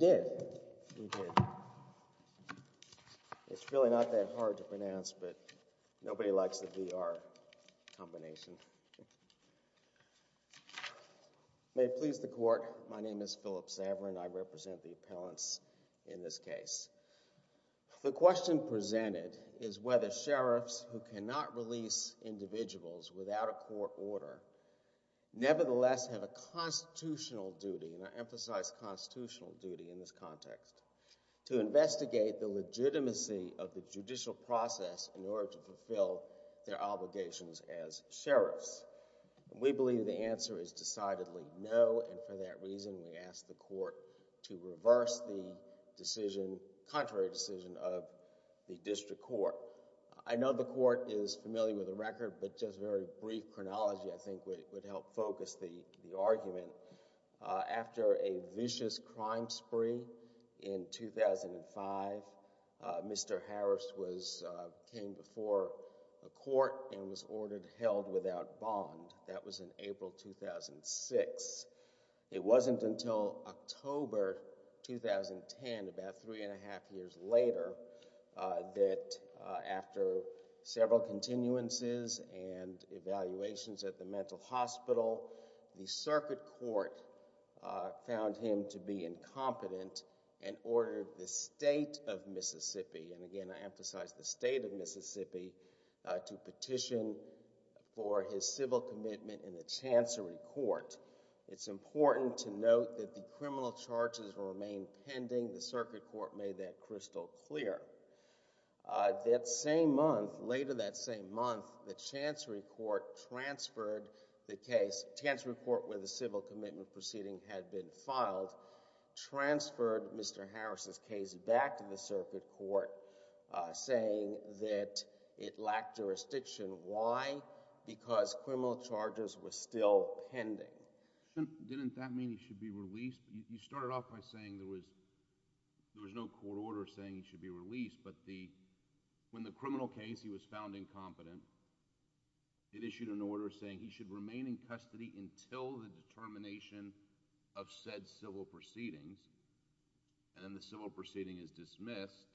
did. It's really not that hard to pronounce, but nobody likes to be our combination. May please the court. My name is Philip Saverin. I represent the appellants in this case. The question presented is whether sheriffs who cannot release individuals without a court order nevertheless have a constitutional duty, and I emphasize constitutional duty in this context, to investigate the legitimacy of the judicial process in order to fulfill their obligations as sheriffs. We believe the answer is decidedly no, and for that reason we ask the court to reverse the decision, contrary decision, of the district court. I know the court is familiar with the record, but just a very brief chronology I think would help focus the argument. After a vicious crime spree in 2005, Mr. Harris came before the court and was ordered held without bond. That was in April 2006. It wasn't until October 2010, about three and a half years later, that after several continuances and evaluations at the mental hospital, the circuit court found him to be incompetent and ordered the state of Mississippi, and again I emphasize the state of Mississippi, to petition for his civil commitment in the Chancery Court. It's important to note that the criminal charges remained pending. The circuit court made that crystal clear. That same month, later that same month, the Chancery Court transferred the case, Chancery Court where the civil commitment proceeding had been filed, transferred Mr. Harris' case back to the circuit court, saying that it lacked jurisdiction. Why? Because criminal charges were still pending. Didn't that mean he should be released? You started off by saying there was no court order saying he should be released, but when the criminal case, he was found incompetent, it issued an order saying he should remain in custody until the determination of said civil proceedings, and then the civil proceeding is dismissed,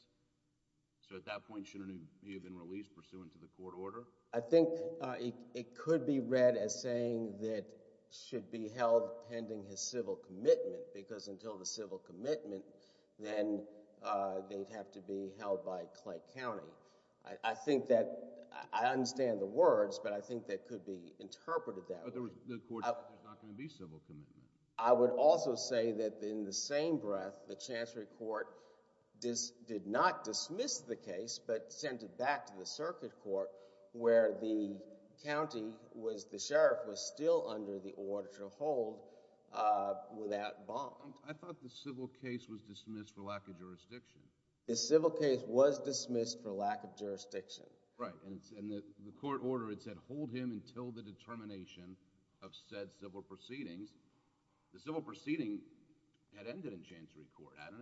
so at that point shouldn't he have been released pursuant to the court order? I think it could be read as saying that should be held pending his civil commitment, because until the civil commitment, then they'd have to be held by Clay County. I think that, I understand the words, but I think that could be interpreted that way. But the court said there's not going to be civil commitment. I would also say that in the same breath, the Chancery Court did not dismiss the case, but sent it back to the circuit court where the county was, the sheriff was still under the order to hold without bond. I thought the civil case was dismissed for lack of jurisdiction. The civil case was dismissed for lack of jurisdiction. Right, and the court order, it said hold him until the determination of said civil proceedings. The civil proceeding had ended in Chancery Court, hadn't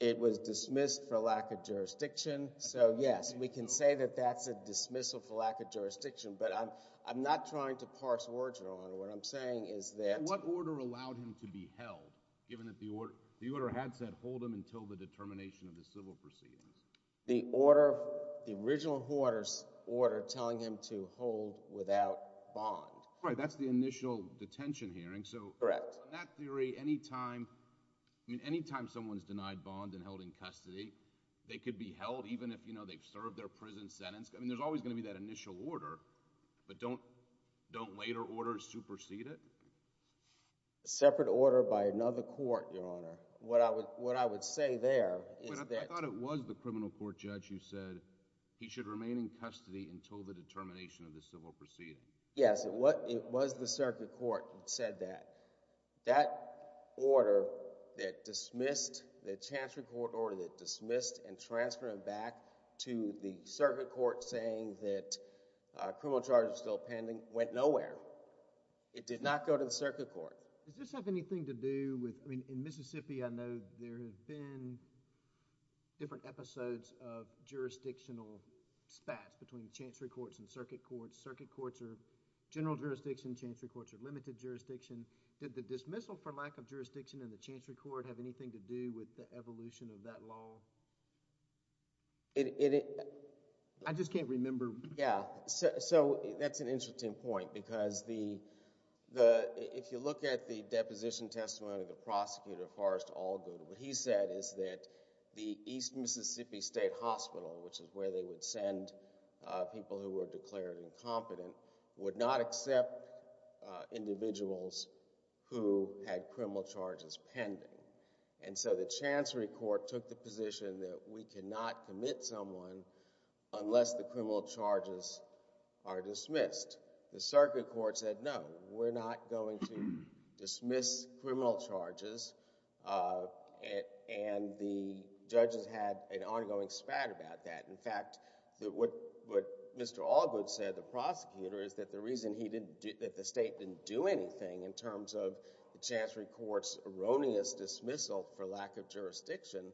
it? It was dismissed for lack of jurisdiction, so yes, we can say that that's a dismissal for lack of jurisdiction, but I'm not trying to parse words, Your Honor. What I'm saying is that... What order allowed him to be held, given that the order had said hold him until the determination of the civil proceedings? The order, the original order telling him to hold without bond. Right, that's the initial detention hearing, so... Correct. So in that theory, any time someone's denied bond and held in custody, they could be held even if they've served their prison sentence. I mean, there's always going to be that initial order, but don't later orders supersede it? Separate order by another court, Your Honor. What I would say there is that... I thought it was the criminal court judge who said he should remain in custody until the determination of the civil proceeding. Yes, it was the circuit court who said that. That order that dismissed, the Chancery Court order that dismissed and transferred him back to the circuit court saying that criminal charges are still pending, went nowhere. It did not go to the circuit court. Does this have anything to do with... I mean, in Mississippi, I know there have been different episodes of jurisdictional spats between the Chancery Courts and circuit courts. Circuit courts are general jurisdiction, Chancery Courts are limited jurisdiction. Did the dismissal for lack of jurisdiction in the Chancery Court have anything to do with the evolution of that law? I just can't remember... Yeah, so that's an interesting point because if you look at the deposition testimony of the prosecutor, Forrest Allgood, what he said is that the East Mississippi State Hospital, which is where they would send people who were declared incompetent, would not accept individuals who had criminal charges pending. And so the Chancery Court took the position that we cannot commit someone unless the criminal charges are dismissed. The circuit court said no, we're not going to dismiss criminal charges and the judges had an ongoing spat about that and in fact, what Mr. Allgood said, the prosecutor, is that the reason that the state didn't do anything in terms of the Chancery Court's erroneous dismissal for lack of jurisdiction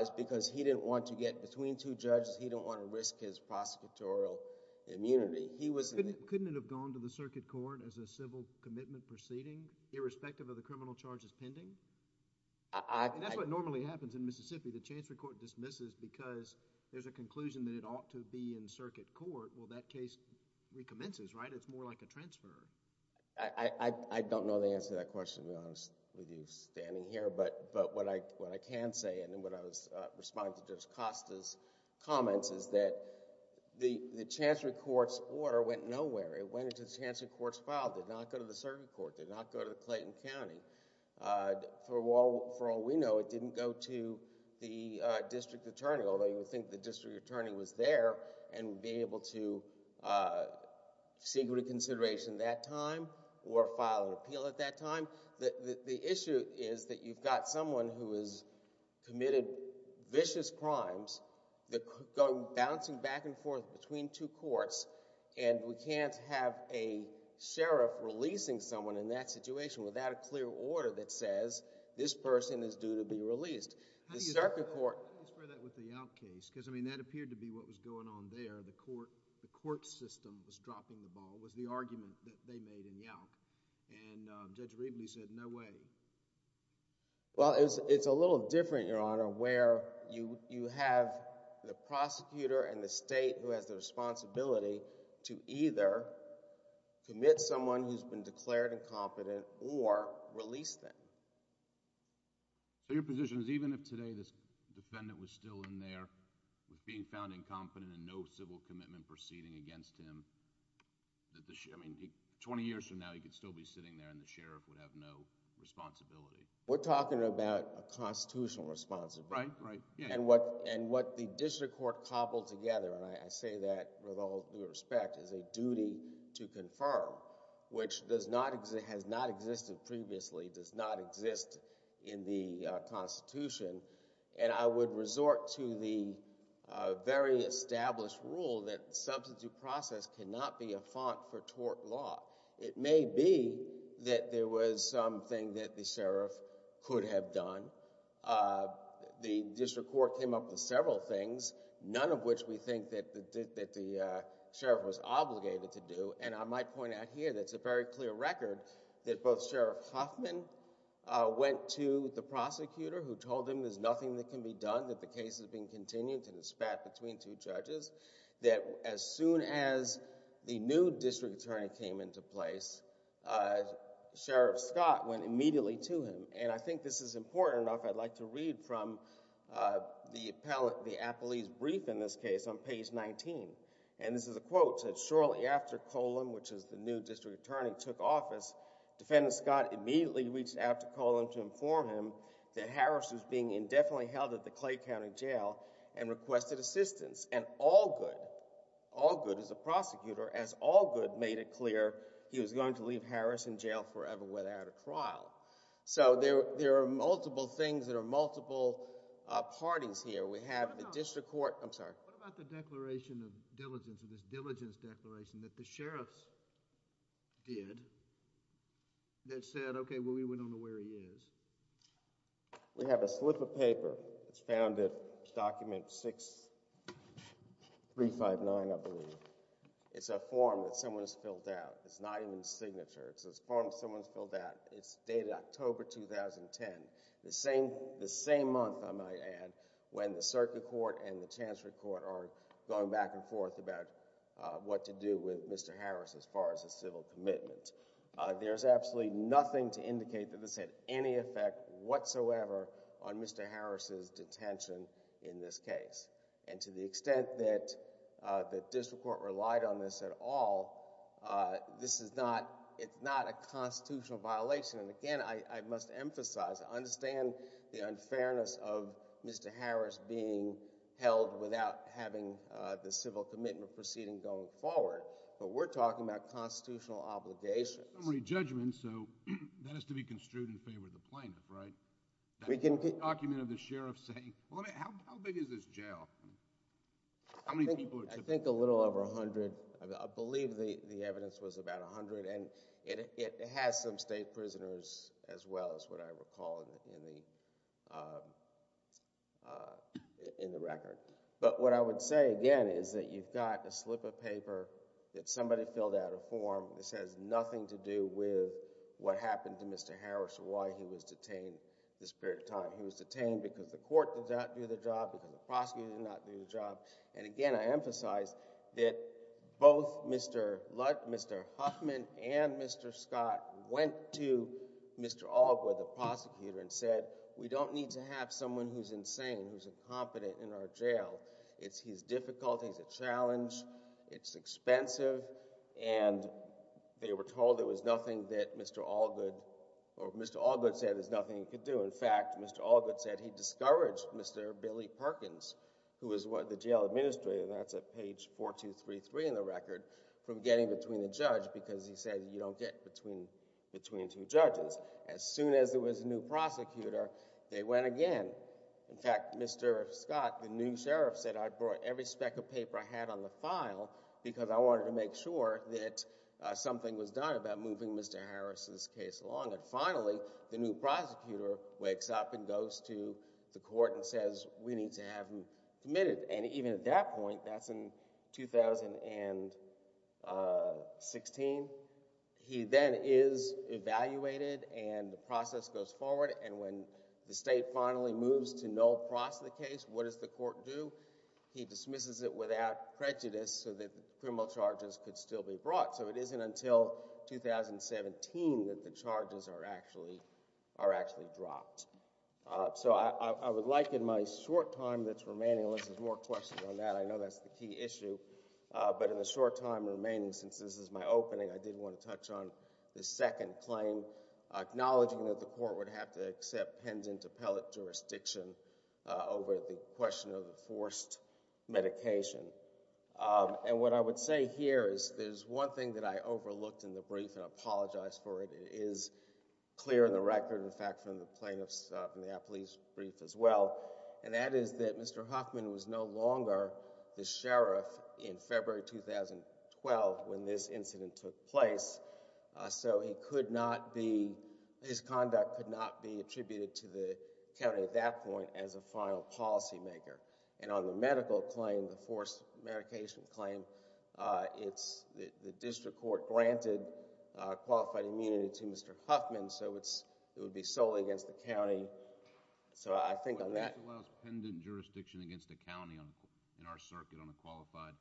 is because he didn't want to get between two judges, he didn't want to risk his prosecutorial immunity. Couldn't it have gone to the circuit court as a civil commitment proceeding, irrespective of the criminal charges pending? That's what normally happens in Mississippi. The Chancery Court dismisses because there's a conclusion that it ought to be in circuit court. Well, that case recommences, right? It's more like a transfer. I don't know the answer to that question to be honest with you standing here, but what I can say and what I was responding to Judge Costa's comments is that the Chancery Court's order went nowhere. It went into the Chancery Court's file, did not go to the circuit court, did not go to Clayton County. For all we know, it didn't go to the district attorney, although you would think the district attorney was there and would be able to seek reconsideration that time or file an appeal at that time. The issue is that you've got someone who has committed vicious crimes, they're bouncing back and forth between two courts and we can't have a sheriff releasing someone in that situation without a clear order that says this person is due to be released. How do you square that with the Yowk case? Because that appeared to be what was going on there. The court system was dropping the ball, was the argument that they made in Yowk and Judge Riebley said no way. Well, it's a little different, Your Honor, where you have the prosecutor and the state who has the responsibility to either commit someone who has been declared incompetent or release them. So your position is even if today this defendant was still in there with being found incompetent and no civil commitment proceeding against him, 20 years from now he could still be sitting there and the sheriff would have no responsibility. We're talking about a constitutional responsibility. And what the district court cobbled together, and I say that with all due respect, is a duty to confirm, which has not existed previously, does not exist in the Constitution, and I would resort to the very established rule that the substitute process cannot be a font for tort law. It may be that there was something that the sheriff could have done. The other thing is the district court came up with several things, none of which we think that the sheriff was obligated to do, and I might point out here that it's a very clear record that both Sheriff Huffman went to the prosecutor who told him there's nothing that can be done, that the case is being continued and it's spat between two judges, that as soon as the new district attorney came into place, Sheriff Scott went immediately to him. And I think this is important enough, I'd like to read from the appellee's brief in this case on page 19. And this is a quote, it said, shortly after Coleman, which is the new district attorney, took office, defendant Scott immediately reached out to Coleman to inform him that Harris was being indefinitely held at the Clay County Jail and requested assistance. And Allgood, Allgood is a prosecutor, as Allgood made it clear he was going to leave Harris in jail forever without a trial. So there are multiple things, there are multiple parties here. We have the district court, I'm sorry. What about the declaration of diligence, of this diligence declaration that the sheriffs did that said, okay, well we don't know where he is? We have a slip of paper, it's found at document 6359, I believe. It's a form that someone has filled out. It's not even a signature. It's a form someone has filled out. It's dated October 2010, the same month, I might add, when the circuit court and the chancellery court are going back and forth about what to do with Mr. Harris as far as a civil commitment. There's absolutely nothing to indicate that this had any effect whatsoever on Mr. Harris's detention in this case. And to the extent that the district court relied on this at all, this is not, it's not a constitutional violation. And again, I must emphasize, I understand the unfairness of Mr. Harris being held without having the civil commitment proceeding going forward, but we're talking about constitutional obligations. Summary judgment, so that has to be construed in favor of the plaintiff, right? We can... Document of the sheriff saying, well, how big is this jail? How many people are... I think a little over 100. I believe the evidence was about 100 and it has some state prisoners as well as what I recall in the record. But what I would say again is that you've got a slip of do with what happened to Mr. Harris or why he was detained this period of time. He was detained because the court did not do the job, because the prosecutor did not do the job. And again, I emphasize that both Mr. Lutt, Mr. Huffman and Mr. Scott went to Mr. Allgood, the prosecutor, and said, we don't need to have someone who's insane, who's incompetent in our jail. It's his fault. We were told there was nothing that Mr. Allgood, or Mr. Allgood said there's nothing he could do. In fact, Mr. Allgood said he discouraged Mr. Billy Perkins, who was the jail administrator, and that's at page 4233 in the record, from getting between the judge because he said you don't get between two judges. As soon as there was a new prosecutor, they went again. In fact, Mr. Scott, the new sheriff, said I brought every speck of paper I had on the file because I wanted to make sure that something was done about moving Mr. Harris's case along. And finally, the new prosecutor wakes up and goes to the court and says we need to have him committed. And even at that point, that's in 2016, he then is evaluated and the process goes forward. And when the state finally moves to no-prose the case, what does the court do? He dismisses it without prejudice so that criminal charges could still be brought. So it isn't until 2017 that the charges are actually dropped. So I would like in my short time that's remaining, unless there's more questions on that, I know that's the key issue, but in the short time remaining since this is my opening, I did want to touch on the second claim, acknowledging that the court would have to accept pendant appellate jurisdiction over the question of the forced medication. And what I would say here is there's one thing that I overlooked in the brief, and I apologize for it. It is clear in the record, in fact, from the plaintiff's brief as well, and that is that Mr. Hoffman was no longer the sheriff in February 2012 when this incident took place. So he could not be, his conduct could not be at that point as a final policymaker. And on the medical claim, the forced medication claim, it's the district court granted qualified immunity to Mr. Hoffman, so it would be solely against the county. So I think on that- But this allows pendant jurisdiction against a county in our circuit on a qualified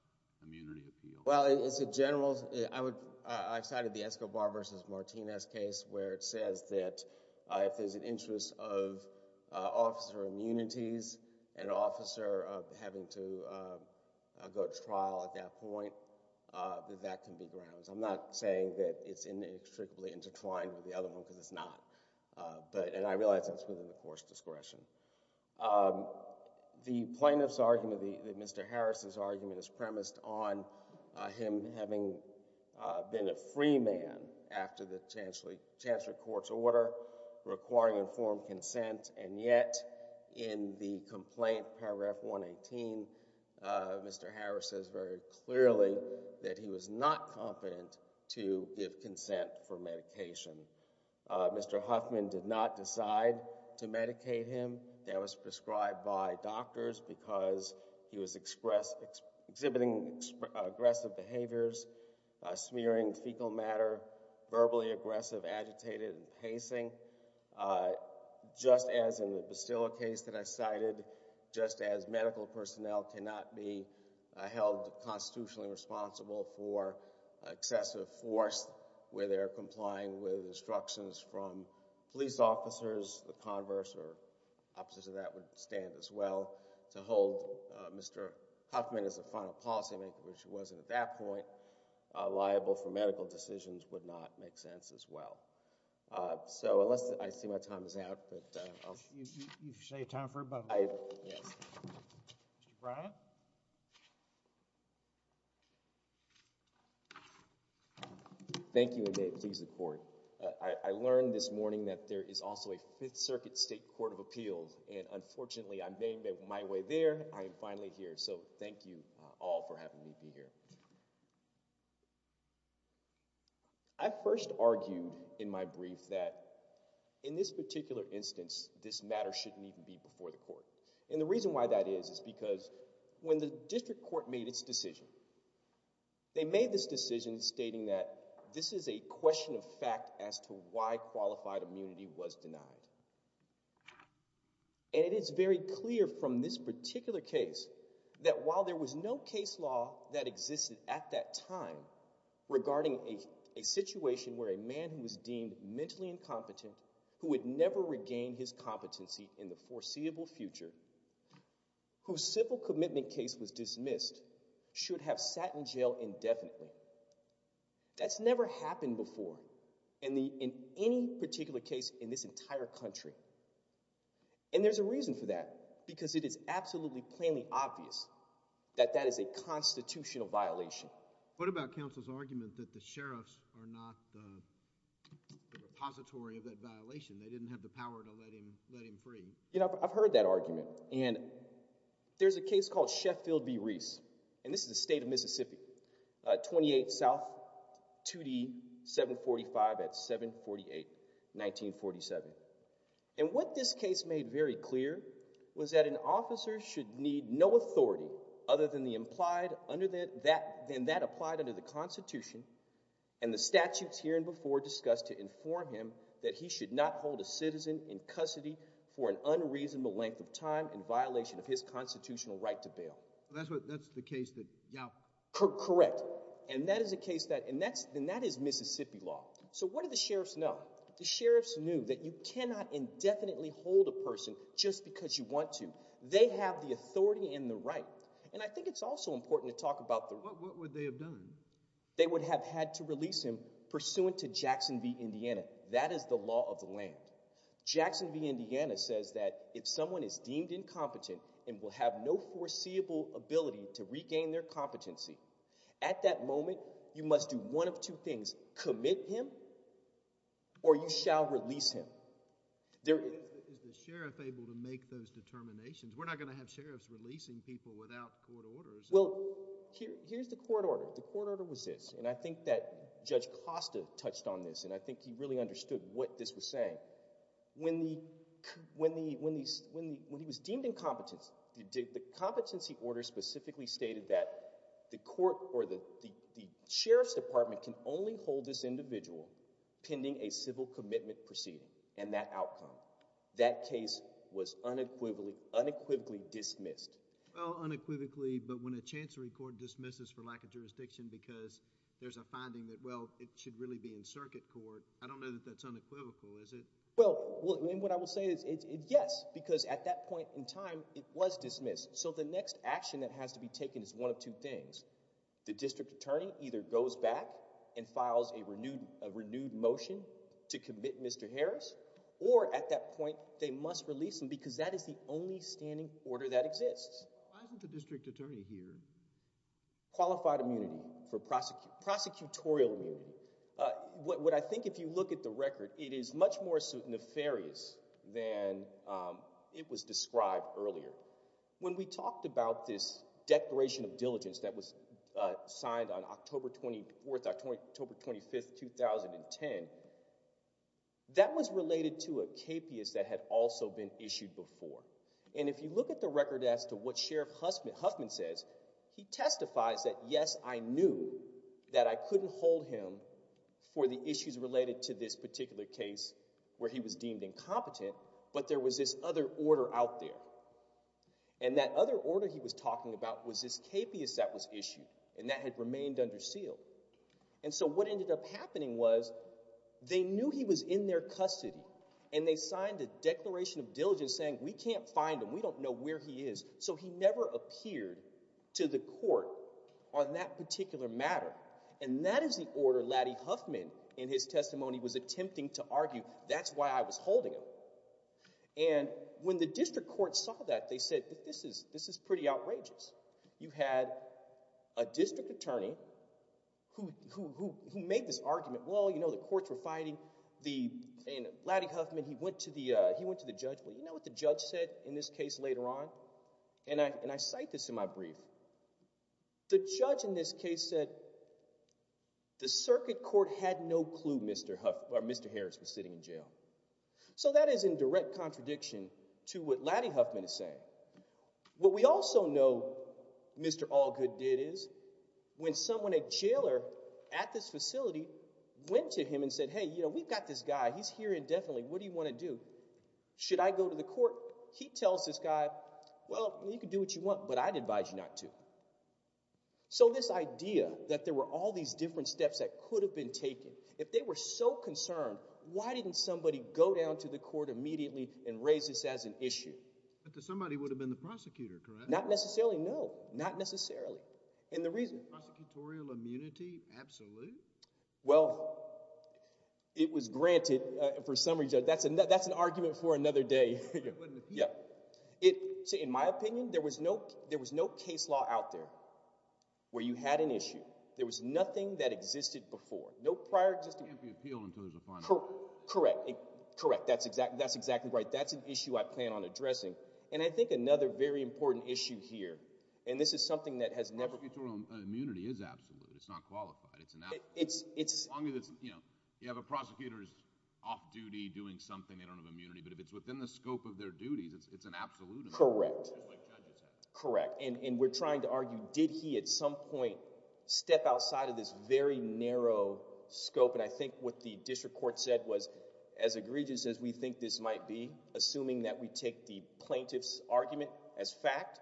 immunity appeal. Well, it's a general, I cited the Escobar versus Martinez case where it says that if there's an interest of officer immunities, an officer having to go to trial at that point, that that can be grounds. I'm not saying that it's inextricably intertwined with the other one because it's not, but, and I realize that's within the court's discretion. The plaintiff's argument, that Mr. Harris's argument is premised on him having been a free man after the chancellor court's order requiring informed consent. And yet in the complaint, paragraph 118, Mr. Harris says very clearly that he was not confident to give consent for medication. Mr. Hoffman did not decide to medicate him. That was prescribed by doctors because he was expressed, exhibiting aggressive behaviors, smearing fecal matter, verbally aggressive, agitated, pacing. Just as in the Bastilla case that I cited, just as medical personnel cannot be held constitutionally responsible for excessive force where they're complying with instructions from police officers, the converse or opposite of that would stand as well. To hold Mr. Hoffman as a final policymaker, which he wasn't at that point, liable for medical decisions would not make sense as well. So unless, I see my time is out, but I'll... You say time for it, but... Yes. Mr. Brown? Thank you and may it please the court. I learned this morning that there is also a Fifth Circuit State Court of Appeals, and unfortunately I made my way there. I am finally here, so thank you all for having me be here. I first argued in my brief that in this particular instance, this matter shouldn't even be before the court. And the reason why that is is because when the district court made its decision, they made this decision stating that this is a question of fact as to why and it is very clear from this particular case that while there was no case law that existed at that time regarding a situation where a man who was deemed mentally incompetent, who would never regain his competency in the foreseeable future, whose civil commitment case was dismissed, should have sat in jail indefinitely. That's never happened before in any particular case in this entire country. And there's a reason for that, because it is absolutely plainly obvious that that is a constitutional violation. What about counsel's argument that the sheriffs are not the repository of that violation? They didn't have the power to let him free. You know, I've heard that argument, and there's a case called Sheffield v. Reese, and this is the state of Mississippi, 28 South 2D 745 at 748, 1947. And what this case made very clear was that an officer should need no authority other than that applied under the Constitution and the statutes here and before discussed to inform him that he should not hold a citizen in custody for an unreasonable length of time. Correct. And that is a case that, and that is Mississippi law. So what do the sheriffs know? The sheriffs knew that you cannot indefinitely hold a person just because you want to. They have the authority and the right. And I think it's also important to talk about the... What would they have done? They would have had to release him pursuant to Jackson v. Indiana. That is the law of the land. Jackson v. Indiana says that if someone is deemed incompetent and will have no foreseeable ability to regain their competency, at that moment you must do one of two things. Commit him, or you shall release him. Is the sheriff able to make those determinations? We're not going to have sheriffs releasing people without court orders. Well, here's the court order. The court order was this, and I think that Judge Costa touched on this, and I think he really did. The competency order specifically stated that the court or the sheriff's department can only hold this individual pending a civil commitment proceeding, and that outcome. That case was unequivocally dismissed. Well, unequivocally, but when a chancery court dismisses for lack of jurisdiction because there's a finding that, well, it should really be in circuit court, I don't know that that's unequivocal, is it? Well, and what I will say is, yes, because at that point, it was unequivocally dismissed, so the next action that has to be taken is one of two things. The district attorney either goes back and files a renewed motion to commit Mr. Harris, or at that point, they must release him because that is the only standing order that exists. Why isn't the district attorney here? Qualified immunity for prosecutorial immunity. What I think, if you look at the record, it is much more nefarious than it was described earlier. When we talked about this declaration of diligence that was signed on October 24th, October 25th, 2010, that was related to a KPIS that had also been issued before. And if you look at the record as to what Sheriff Huffman says, he testifies that, yes, I knew that I couldn't hold him for the issues related to this particular case where he was deemed incompetent, but there was this other order out there. And that other order he was talking about was this KPIS that was issued, and that had remained under seal. And so what ended up happening was, they knew he was in their custody, and they signed a declaration of diligence saying, we can't find him, we don't know where he is, so he never appeared to the court on that particular matter. And that is the order Laddie Huffman, in his testimony, was attempting to argue, that's why I was holding him. And when the district court saw that, they said, this is pretty outrageous. You had a district attorney who made this argument, well, you know, the courts were fighting, and Laddie Huffman, he went to the judge, well, you know what the judge said in this case later on? And I cite this in my brief. The judge in this case said, the circuit court had no clue Mr. Harris was sitting in jail. So that is in direct contradiction to what Laddie Huffman is saying. What we also know Mr. Allgood did is, when someone, a jailer at this facility, went to him and said, hey, you know, we've got this guy, he's here indefinitely, what do you want to do? Should I go to the court? He tells this guy, well, you can do what you want, but I'd advise you not to. So this idea that there were all these different steps that could have been taken, if they were so concerned, why didn't somebody go down to the court immediately and raise this as an issue? But somebody would have been the prosecutor, correct? Not necessarily, no, not necessarily. And the reason? Prosecutorial immunity, absolute? Well, it was granted, for some reason, that's an argument for another day. In my opinion, there was no case law out there where you had an issue. There was nothing that can't be appealed until there's a final ruling. Correct, correct, that's exactly right. That's an issue I plan on addressing. And I think another very important issue here, and this is something that has never... Prosecutorial immunity is absolute, it's not qualified. You have a prosecutor who's off duty doing something, they don't have immunity, but if it's within the scope of their duties, it's an absolute immunity, just like judges have. Correct, and we're trying to argue, did he at some point step outside of this very narrow scope? And I think what the district court said was, as egregious as we think this might be, assuming that we take the plaintiff's argument as fact,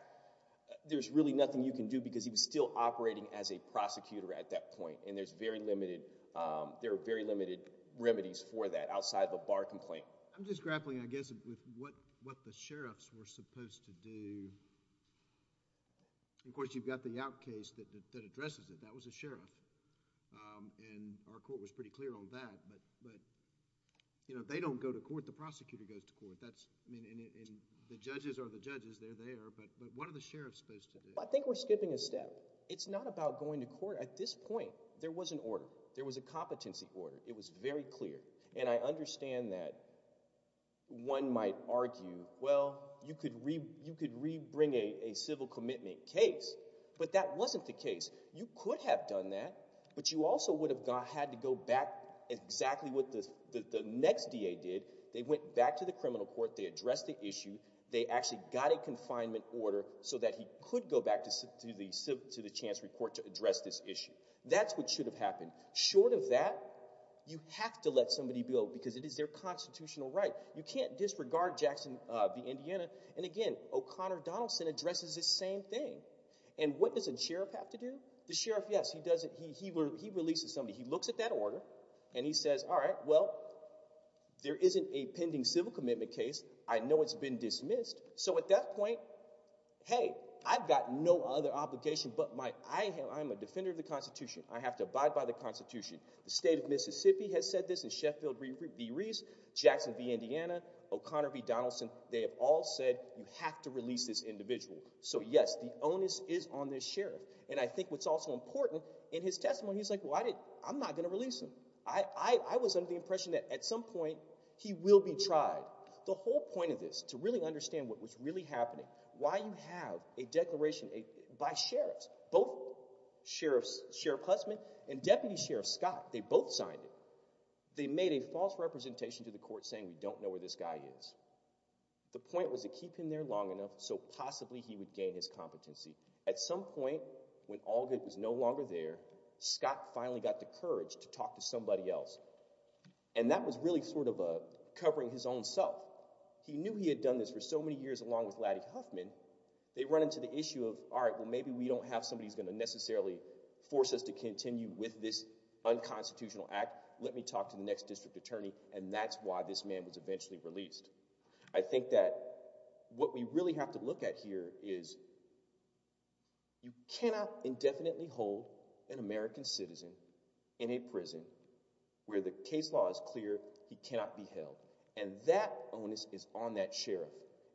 there's really nothing you can do because he was still operating as a prosecutor at that point. And there's very limited, there are very limited remedies for that outside of a bar complaint. I'm just grappling, I guess, with what the sheriffs were supposed to do. Of course, you've got the Yacht case that addresses it, that was a sheriff, and our court was pretty clear on that, but if they don't go to court, the prosecutor goes to court. And the judges are the judges, they're there, but what are the sheriffs supposed to do? I think we're skipping a step. It's not about going to court. At this point, there was an order, there was a competency order, it was very clear. And I understand that one might argue, well, you could re-bring a civil commitment case, but that wasn't the case. You could have done that, but you also would have had to go back, exactly what the next DA did, they went back to the criminal court, they addressed the issue, they actually got a confinement order so that he could go back to the chancery court to address this issue. That's what should have happened. Short of that, you have to let somebody build, because it is their constitutional right. You can't disregard Jackson v. Indiana. And again, O'Connor Donaldson addresses this same thing. And what does a sheriff have to do? The sheriff, yes, he releases somebody, he looks at that order, and he says, all right, well, there isn't a pending civil commitment case, I know it's been dismissed. So at that point, hey, I've got no other obligation, but I am a defender of the Constitution, I have to abide by the Constitution. The state of Mississippi has said this, and Sheffield v. Reese, Jackson v. Indiana, O'Connor v. Donaldson, they have all said, you have to release this individual. So yes, the onus is on this sheriff. And I think what's also important, in his testimony, he's like, well, I'm not going to release him. I was under the impression that at some point, he will be tried. The whole point of this, to really understand what was really happening, why you have a declaration by sheriffs, both Sheriff Hussman and Deputy Sheriff Scott, they both signed it. They made a false representation to the court saying we don't know where this guy is. The point was to keep him there long enough so possibly he would gain his competency. At some point, when Allgood was no longer there, Scott finally got the courage to talk to somebody else. And that was really sort of a covering his own self. He knew he had done this for so many years, along with Laddick Huffman, they run into the issue of, all right, well, maybe we don't have somebody who's going to necessarily force us to continue with this unconstitutional act. Let me talk to the next district attorney. And that's why this man was eventually released. I think that what we really have to look at here is, you cannot indefinitely hold an American citizen in a prison where the case law is clear he cannot be held. And that onus is on that sheriff.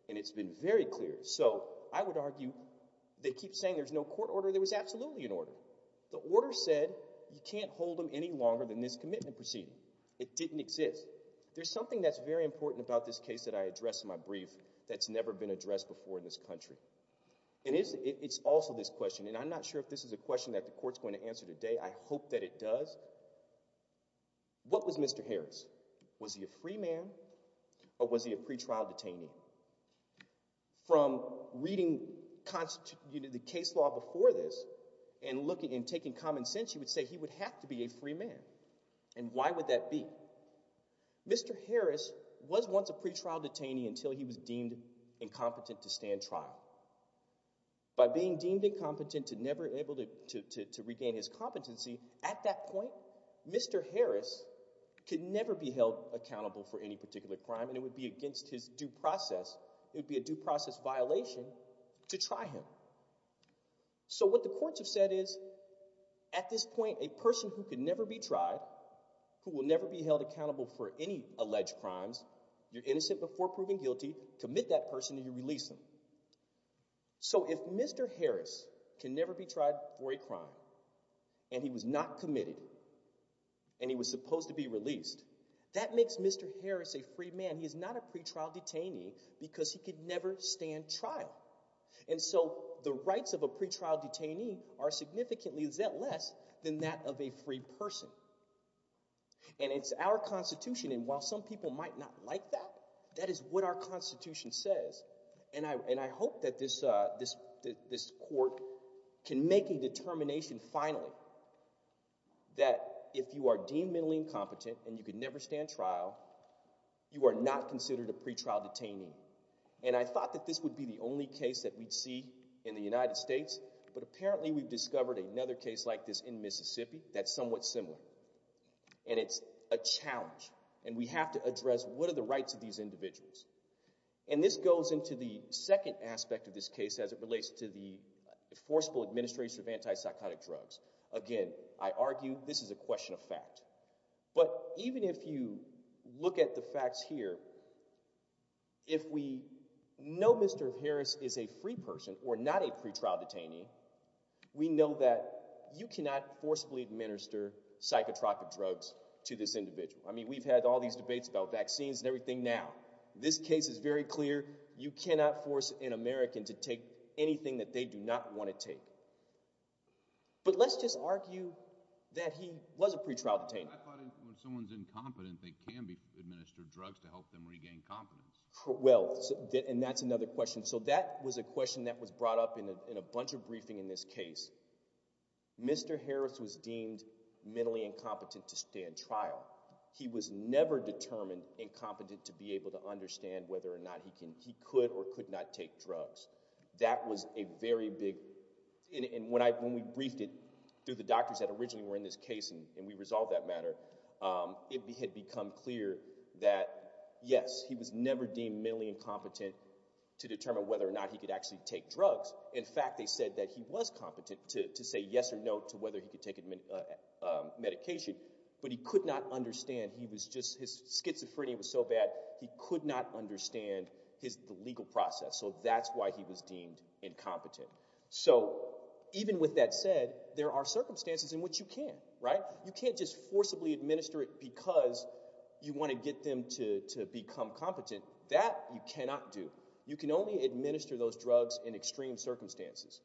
And it's been very clear. So I would argue, they keep saying there's no court order. There was this commitment proceeding. It didn't exist. There's something that's very important about this case that I addressed in my brief that's never been addressed before in this country. It's also this question, and I'm not sure if this is a question that the court's going to answer today. I hope that it does. What was Mr. Harris? Was he a free man or was he a pretrial detainee? From reading the case law before this and looking and taking common sense, you would say he would have to be a free man. And why would that be? Mr. Harris was once a pretrial detainee until he was deemed incompetent to stand trial. By being deemed incompetent to never able to regain his competency, at that point, Mr. Harris could never be held accountable for any particular crime. And it would be against his due process. It would be a due process violation to try him. So what the courts have said is, at this point, a person who could never be tried, who will never be held accountable for any alleged crimes, you're innocent before proving guilty. Commit that person, and you release them. So if Mr. Harris can never be tried for a crime, and he was not committed, and he was supposed to be released, that makes Mr. Harris a free man. He is not a pretrial detainee because he could never stand trial. And so the rights of a pretrial detainee are significantly less than that of a free person. And it's our Constitution, and while some people might not like that, that is what our Constitution says. And I hope that this court can make a determination, finally, that if you are fundamentally incompetent and you can never stand trial, you are not considered a pretrial detainee. And I thought that this would be the only case that we'd see in the United States, but apparently we've discovered another case like this in Mississippi that's somewhat similar. And it's a challenge, and we have to address what are the rights of these individuals. And this goes into the second aspect of this case as it relates to the enforceable administration of anti-psychotic drugs. Again, I argue this is a question of fact, but even if you look at the facts here, if we know Mr. Harris is a free person or not a pretrial detainee, we know that you cannot forcefully administer psychotropic drugs to this individual. I mean, we've had all these debates about vaccines and everything now. This case is very clear. You cannot force an American to take anything that they do not want to take. But let's just argue that he was a pretrial detainee. I thought if someone's incompetent, they can administer drugs to help them regain confidence. Well, and that's another question. So that was a question that was brought up in a bunch of briefing in this case. Mr. Harris was deemed mentally incompetent to stand trial. He was never determined incompetent to be able to understand whether or not he could or could not take drugs. That was a very big, and when we briefed it through the doctors that originally were in this case, and we resolved that matter, it had become clear that yes, he was never deemed mentally incompetent to determine whether or not he could actually take drugs. In fact, they said that he was competent to say yes or no to whether he could take a medication, but he could not understand his legal process. So that's why he was deemed incompetent. So even with that said, there are circumstances in which you can't, right? You can't just forcibly administer it because you want to get them to become competent. That you cannot do. You can only administer those drugs in extreme circumstances.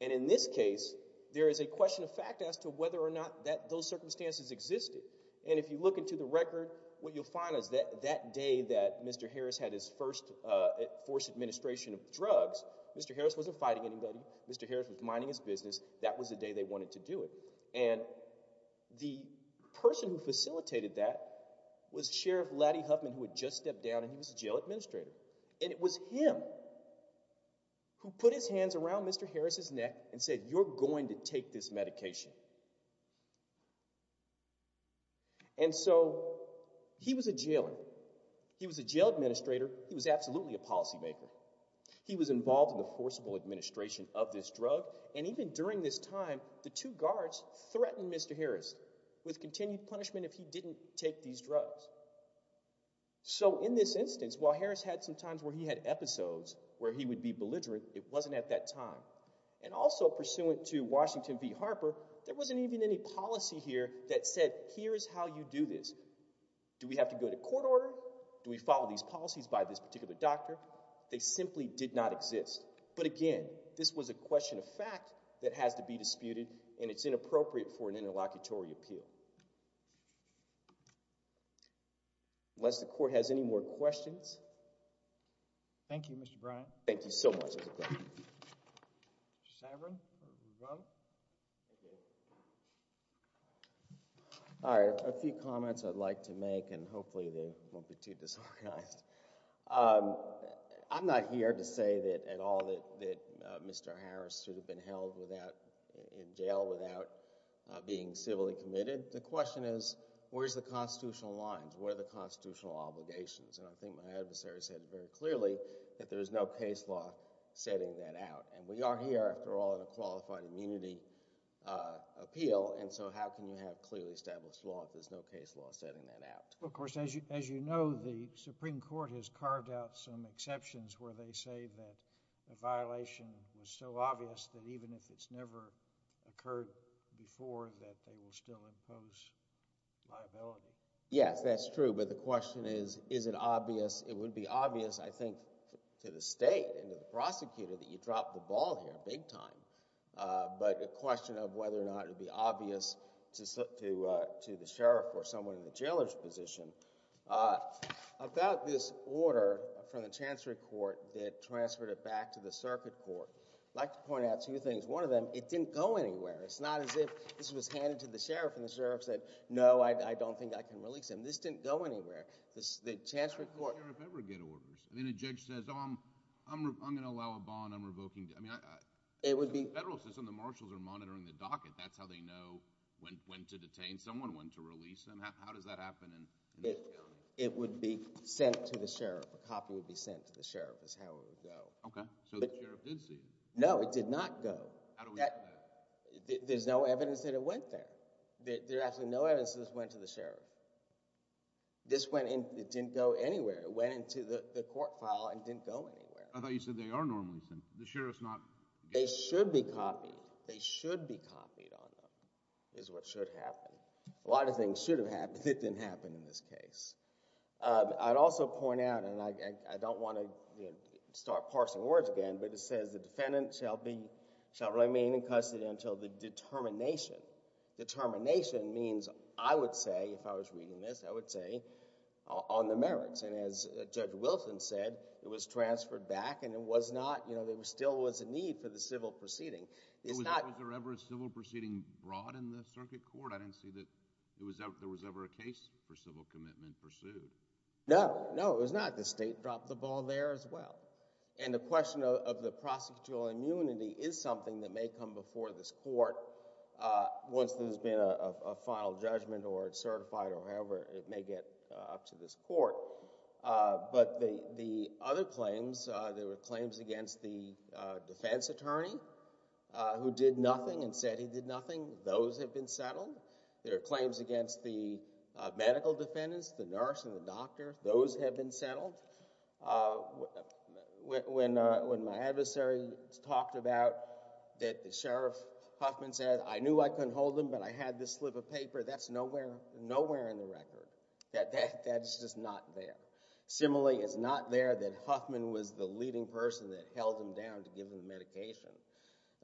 And in this case, there is a question of fact as to whether or not that those circumstances existed. And if you look into the record, what you'll find is that that day that Mr. Harris had his first forced administration of drugs, Mr. Harris wasn't fighting anybody. Mr. Harris was minding his business. That was the day they wanted to do it. And the person who facilitated that was Sheriff Laddie Huffman, who had just stepped down, and he was a jail administrator. And it was him who put his hands around Mr. Harris's neck and said, you're going to take this medication. And so he was a jailer. He was a jail administrator. He was absolutely a policymaker. He was involved in the forcible administration of this drug. And even during this time, the two guards threatened Mr. Harris with continued punishment if he didn't take these drugs. So in this instance, while Harris had some times where he had episodes where he would be belligerent, it wasn't at that time. And also pursuant to Washington v. Harper, there wasn't even any policy here that said, here's how you do this. Do we have to go to court order? Do we follow these policies by this particular doctor? They simply did not exist. But again, this was a question of fact that has to be disputed, and it's inappropriate for an interlocutory appeal. Unless the court has any more questions. Thank you, Mr. Bryant. Thank you so much. Mr. Saverin? All right. A few comments I'd like to make, and hopefully they won't be too disorganized. I'm not here to say that at all that Mr. Harris should have been held in jail without being civilly committed. The question is, where's the constitutional lines? What are the constitutional obligations? And I think my adversary said very clearly that there is no case law setting that out. And we are here, after all, in a qualified immunity appeal, and so how can you have clearly established law if there's no case law setting that out? Of course, as you know, the Supreme Court has carved out some exceptions where they say that the violation was so obvious that even if it's never occurred before, that they will still impose liability. Yes, that's true. But the question is, is it obvious? It would be obvious, I think, to the state and to the prosecutor that you dropped the ball here big time. But a question of whether or not it would be obvious to the sheriff or someone in the jailer's position about this order from the Chancery Court that transferred it back to the Circuit Court. I'd like to point out two things. One of them, it didn't go anywhere. It's not as if this was handed to the sheriff and the sheriff said, no, I don't think I can release him. This didn't go anywhere. The Chancery Court— Then a judge says, oh, I'm going to allow a bond, I'm revoking— It would be— In the federal system, the marshals are monitoring the docket. That's how they know when to detain someone, when to release them. How does that happen in this county? It would be sent to the sheriff. A copy would be sent to the sheriff is how it would go. Okay. So the sheriff did see it. No, it did not go. There's no evidence that it went there. There's absolutely no evidence that this went to the file and didn't go anywhere. I thought you said they are normally sent. The sheriff's not— They should be copied. They should be copied on them, is what should happen. A lot of things should have happened that didn't happen in this case. I'd also point out, and I don't want to start parsing words again, but it says, the defendant shall remain in custody until the determination. Determination means, I would say, if I was reading this, I would say, on the merits. And as Judge Wilson said, it was transferred back, and there still was a need for the civil proceeding. Was there ever a civil proceeding brought in the circuit court? I didn't see that there was ever a case for civil commitment pursued. No. No, it was not. The state dropped the ball there as well. And the question of the prosecutorial immunity is something that may come before this court once there's been a final judgment or it's certified or however it may get up to this court. But the other claims, there were claims against the defense attorney who did nothing and said he did nothing. Those have been settled. There are claims against the medical defendants, the nurse and the doctor. Those have been settled. When my adversary talked about the sheriff, Huffman, said, I knew I couldn't hold him, but I had this slip of paper. That's nowhere in the record. That's just not there. Similarly, it's not there that Huffman was the leading person that held him down to give him the medication.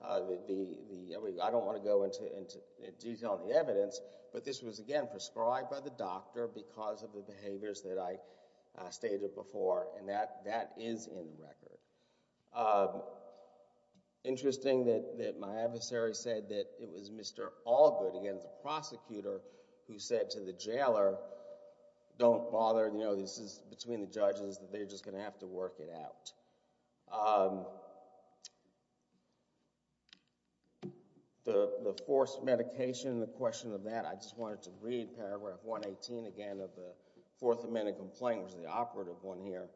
I don't want to go into detail on the evidence, but this was, again, prescribed by the doctor because of the behaviors that I stated before, and that is in the record. Interesting that my adversary said that it was Mr. Allgood, again, the prosecutor, who said to the jailer, don't bother. This is between the judges. They're just going to have to work it out. The forced medication, the question of that, I just wanted to read Paragraph 118, again, of the Fourth Amendment complaint, which is the operative one here.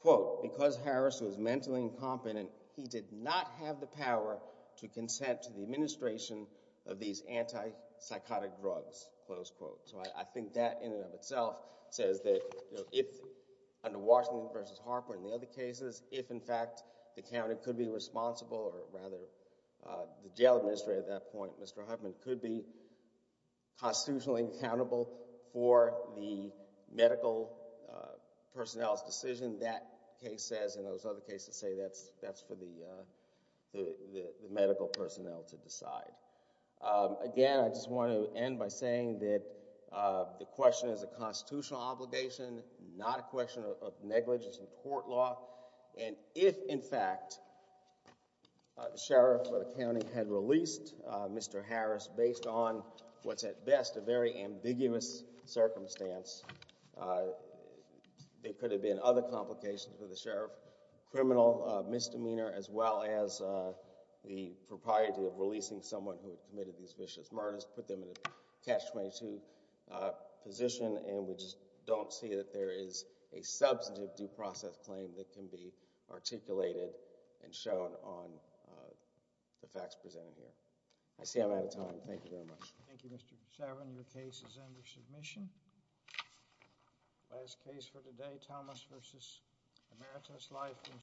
Quote, because Harris was mentally incompetent, he did not have the power to consent to the administration of these anti-psychotic drugs, close quote. So I think that, in and of itself, says that if, under Washington v. Harper and the other cases, if, in fact, the county could be constitutionally accountable for the medical personnel's decision, that case says and those other cases say that's for the medical personnel to decide. Again, I just want to end by saying that the question is a constitutional obligation, not a question of negligence in court law, and if, in fact, the sheriff of the county had released Mr. Harris based on what's at best a very ambiguous circumstance, there could have been other complications for the sheriff, criminal misdemeanor, as well as the propriety of releasing someone who had committed these vicious murders, put them in a catch-22 position, and we just don't see that there is a substantive due process claim that can be articulated and shown on the facts presented here. I see I'm out of time. Thank you very much. Thank you, Mr. Chauvin. Your case is under submission. Last case for today, Thomas v. Emeritus, life and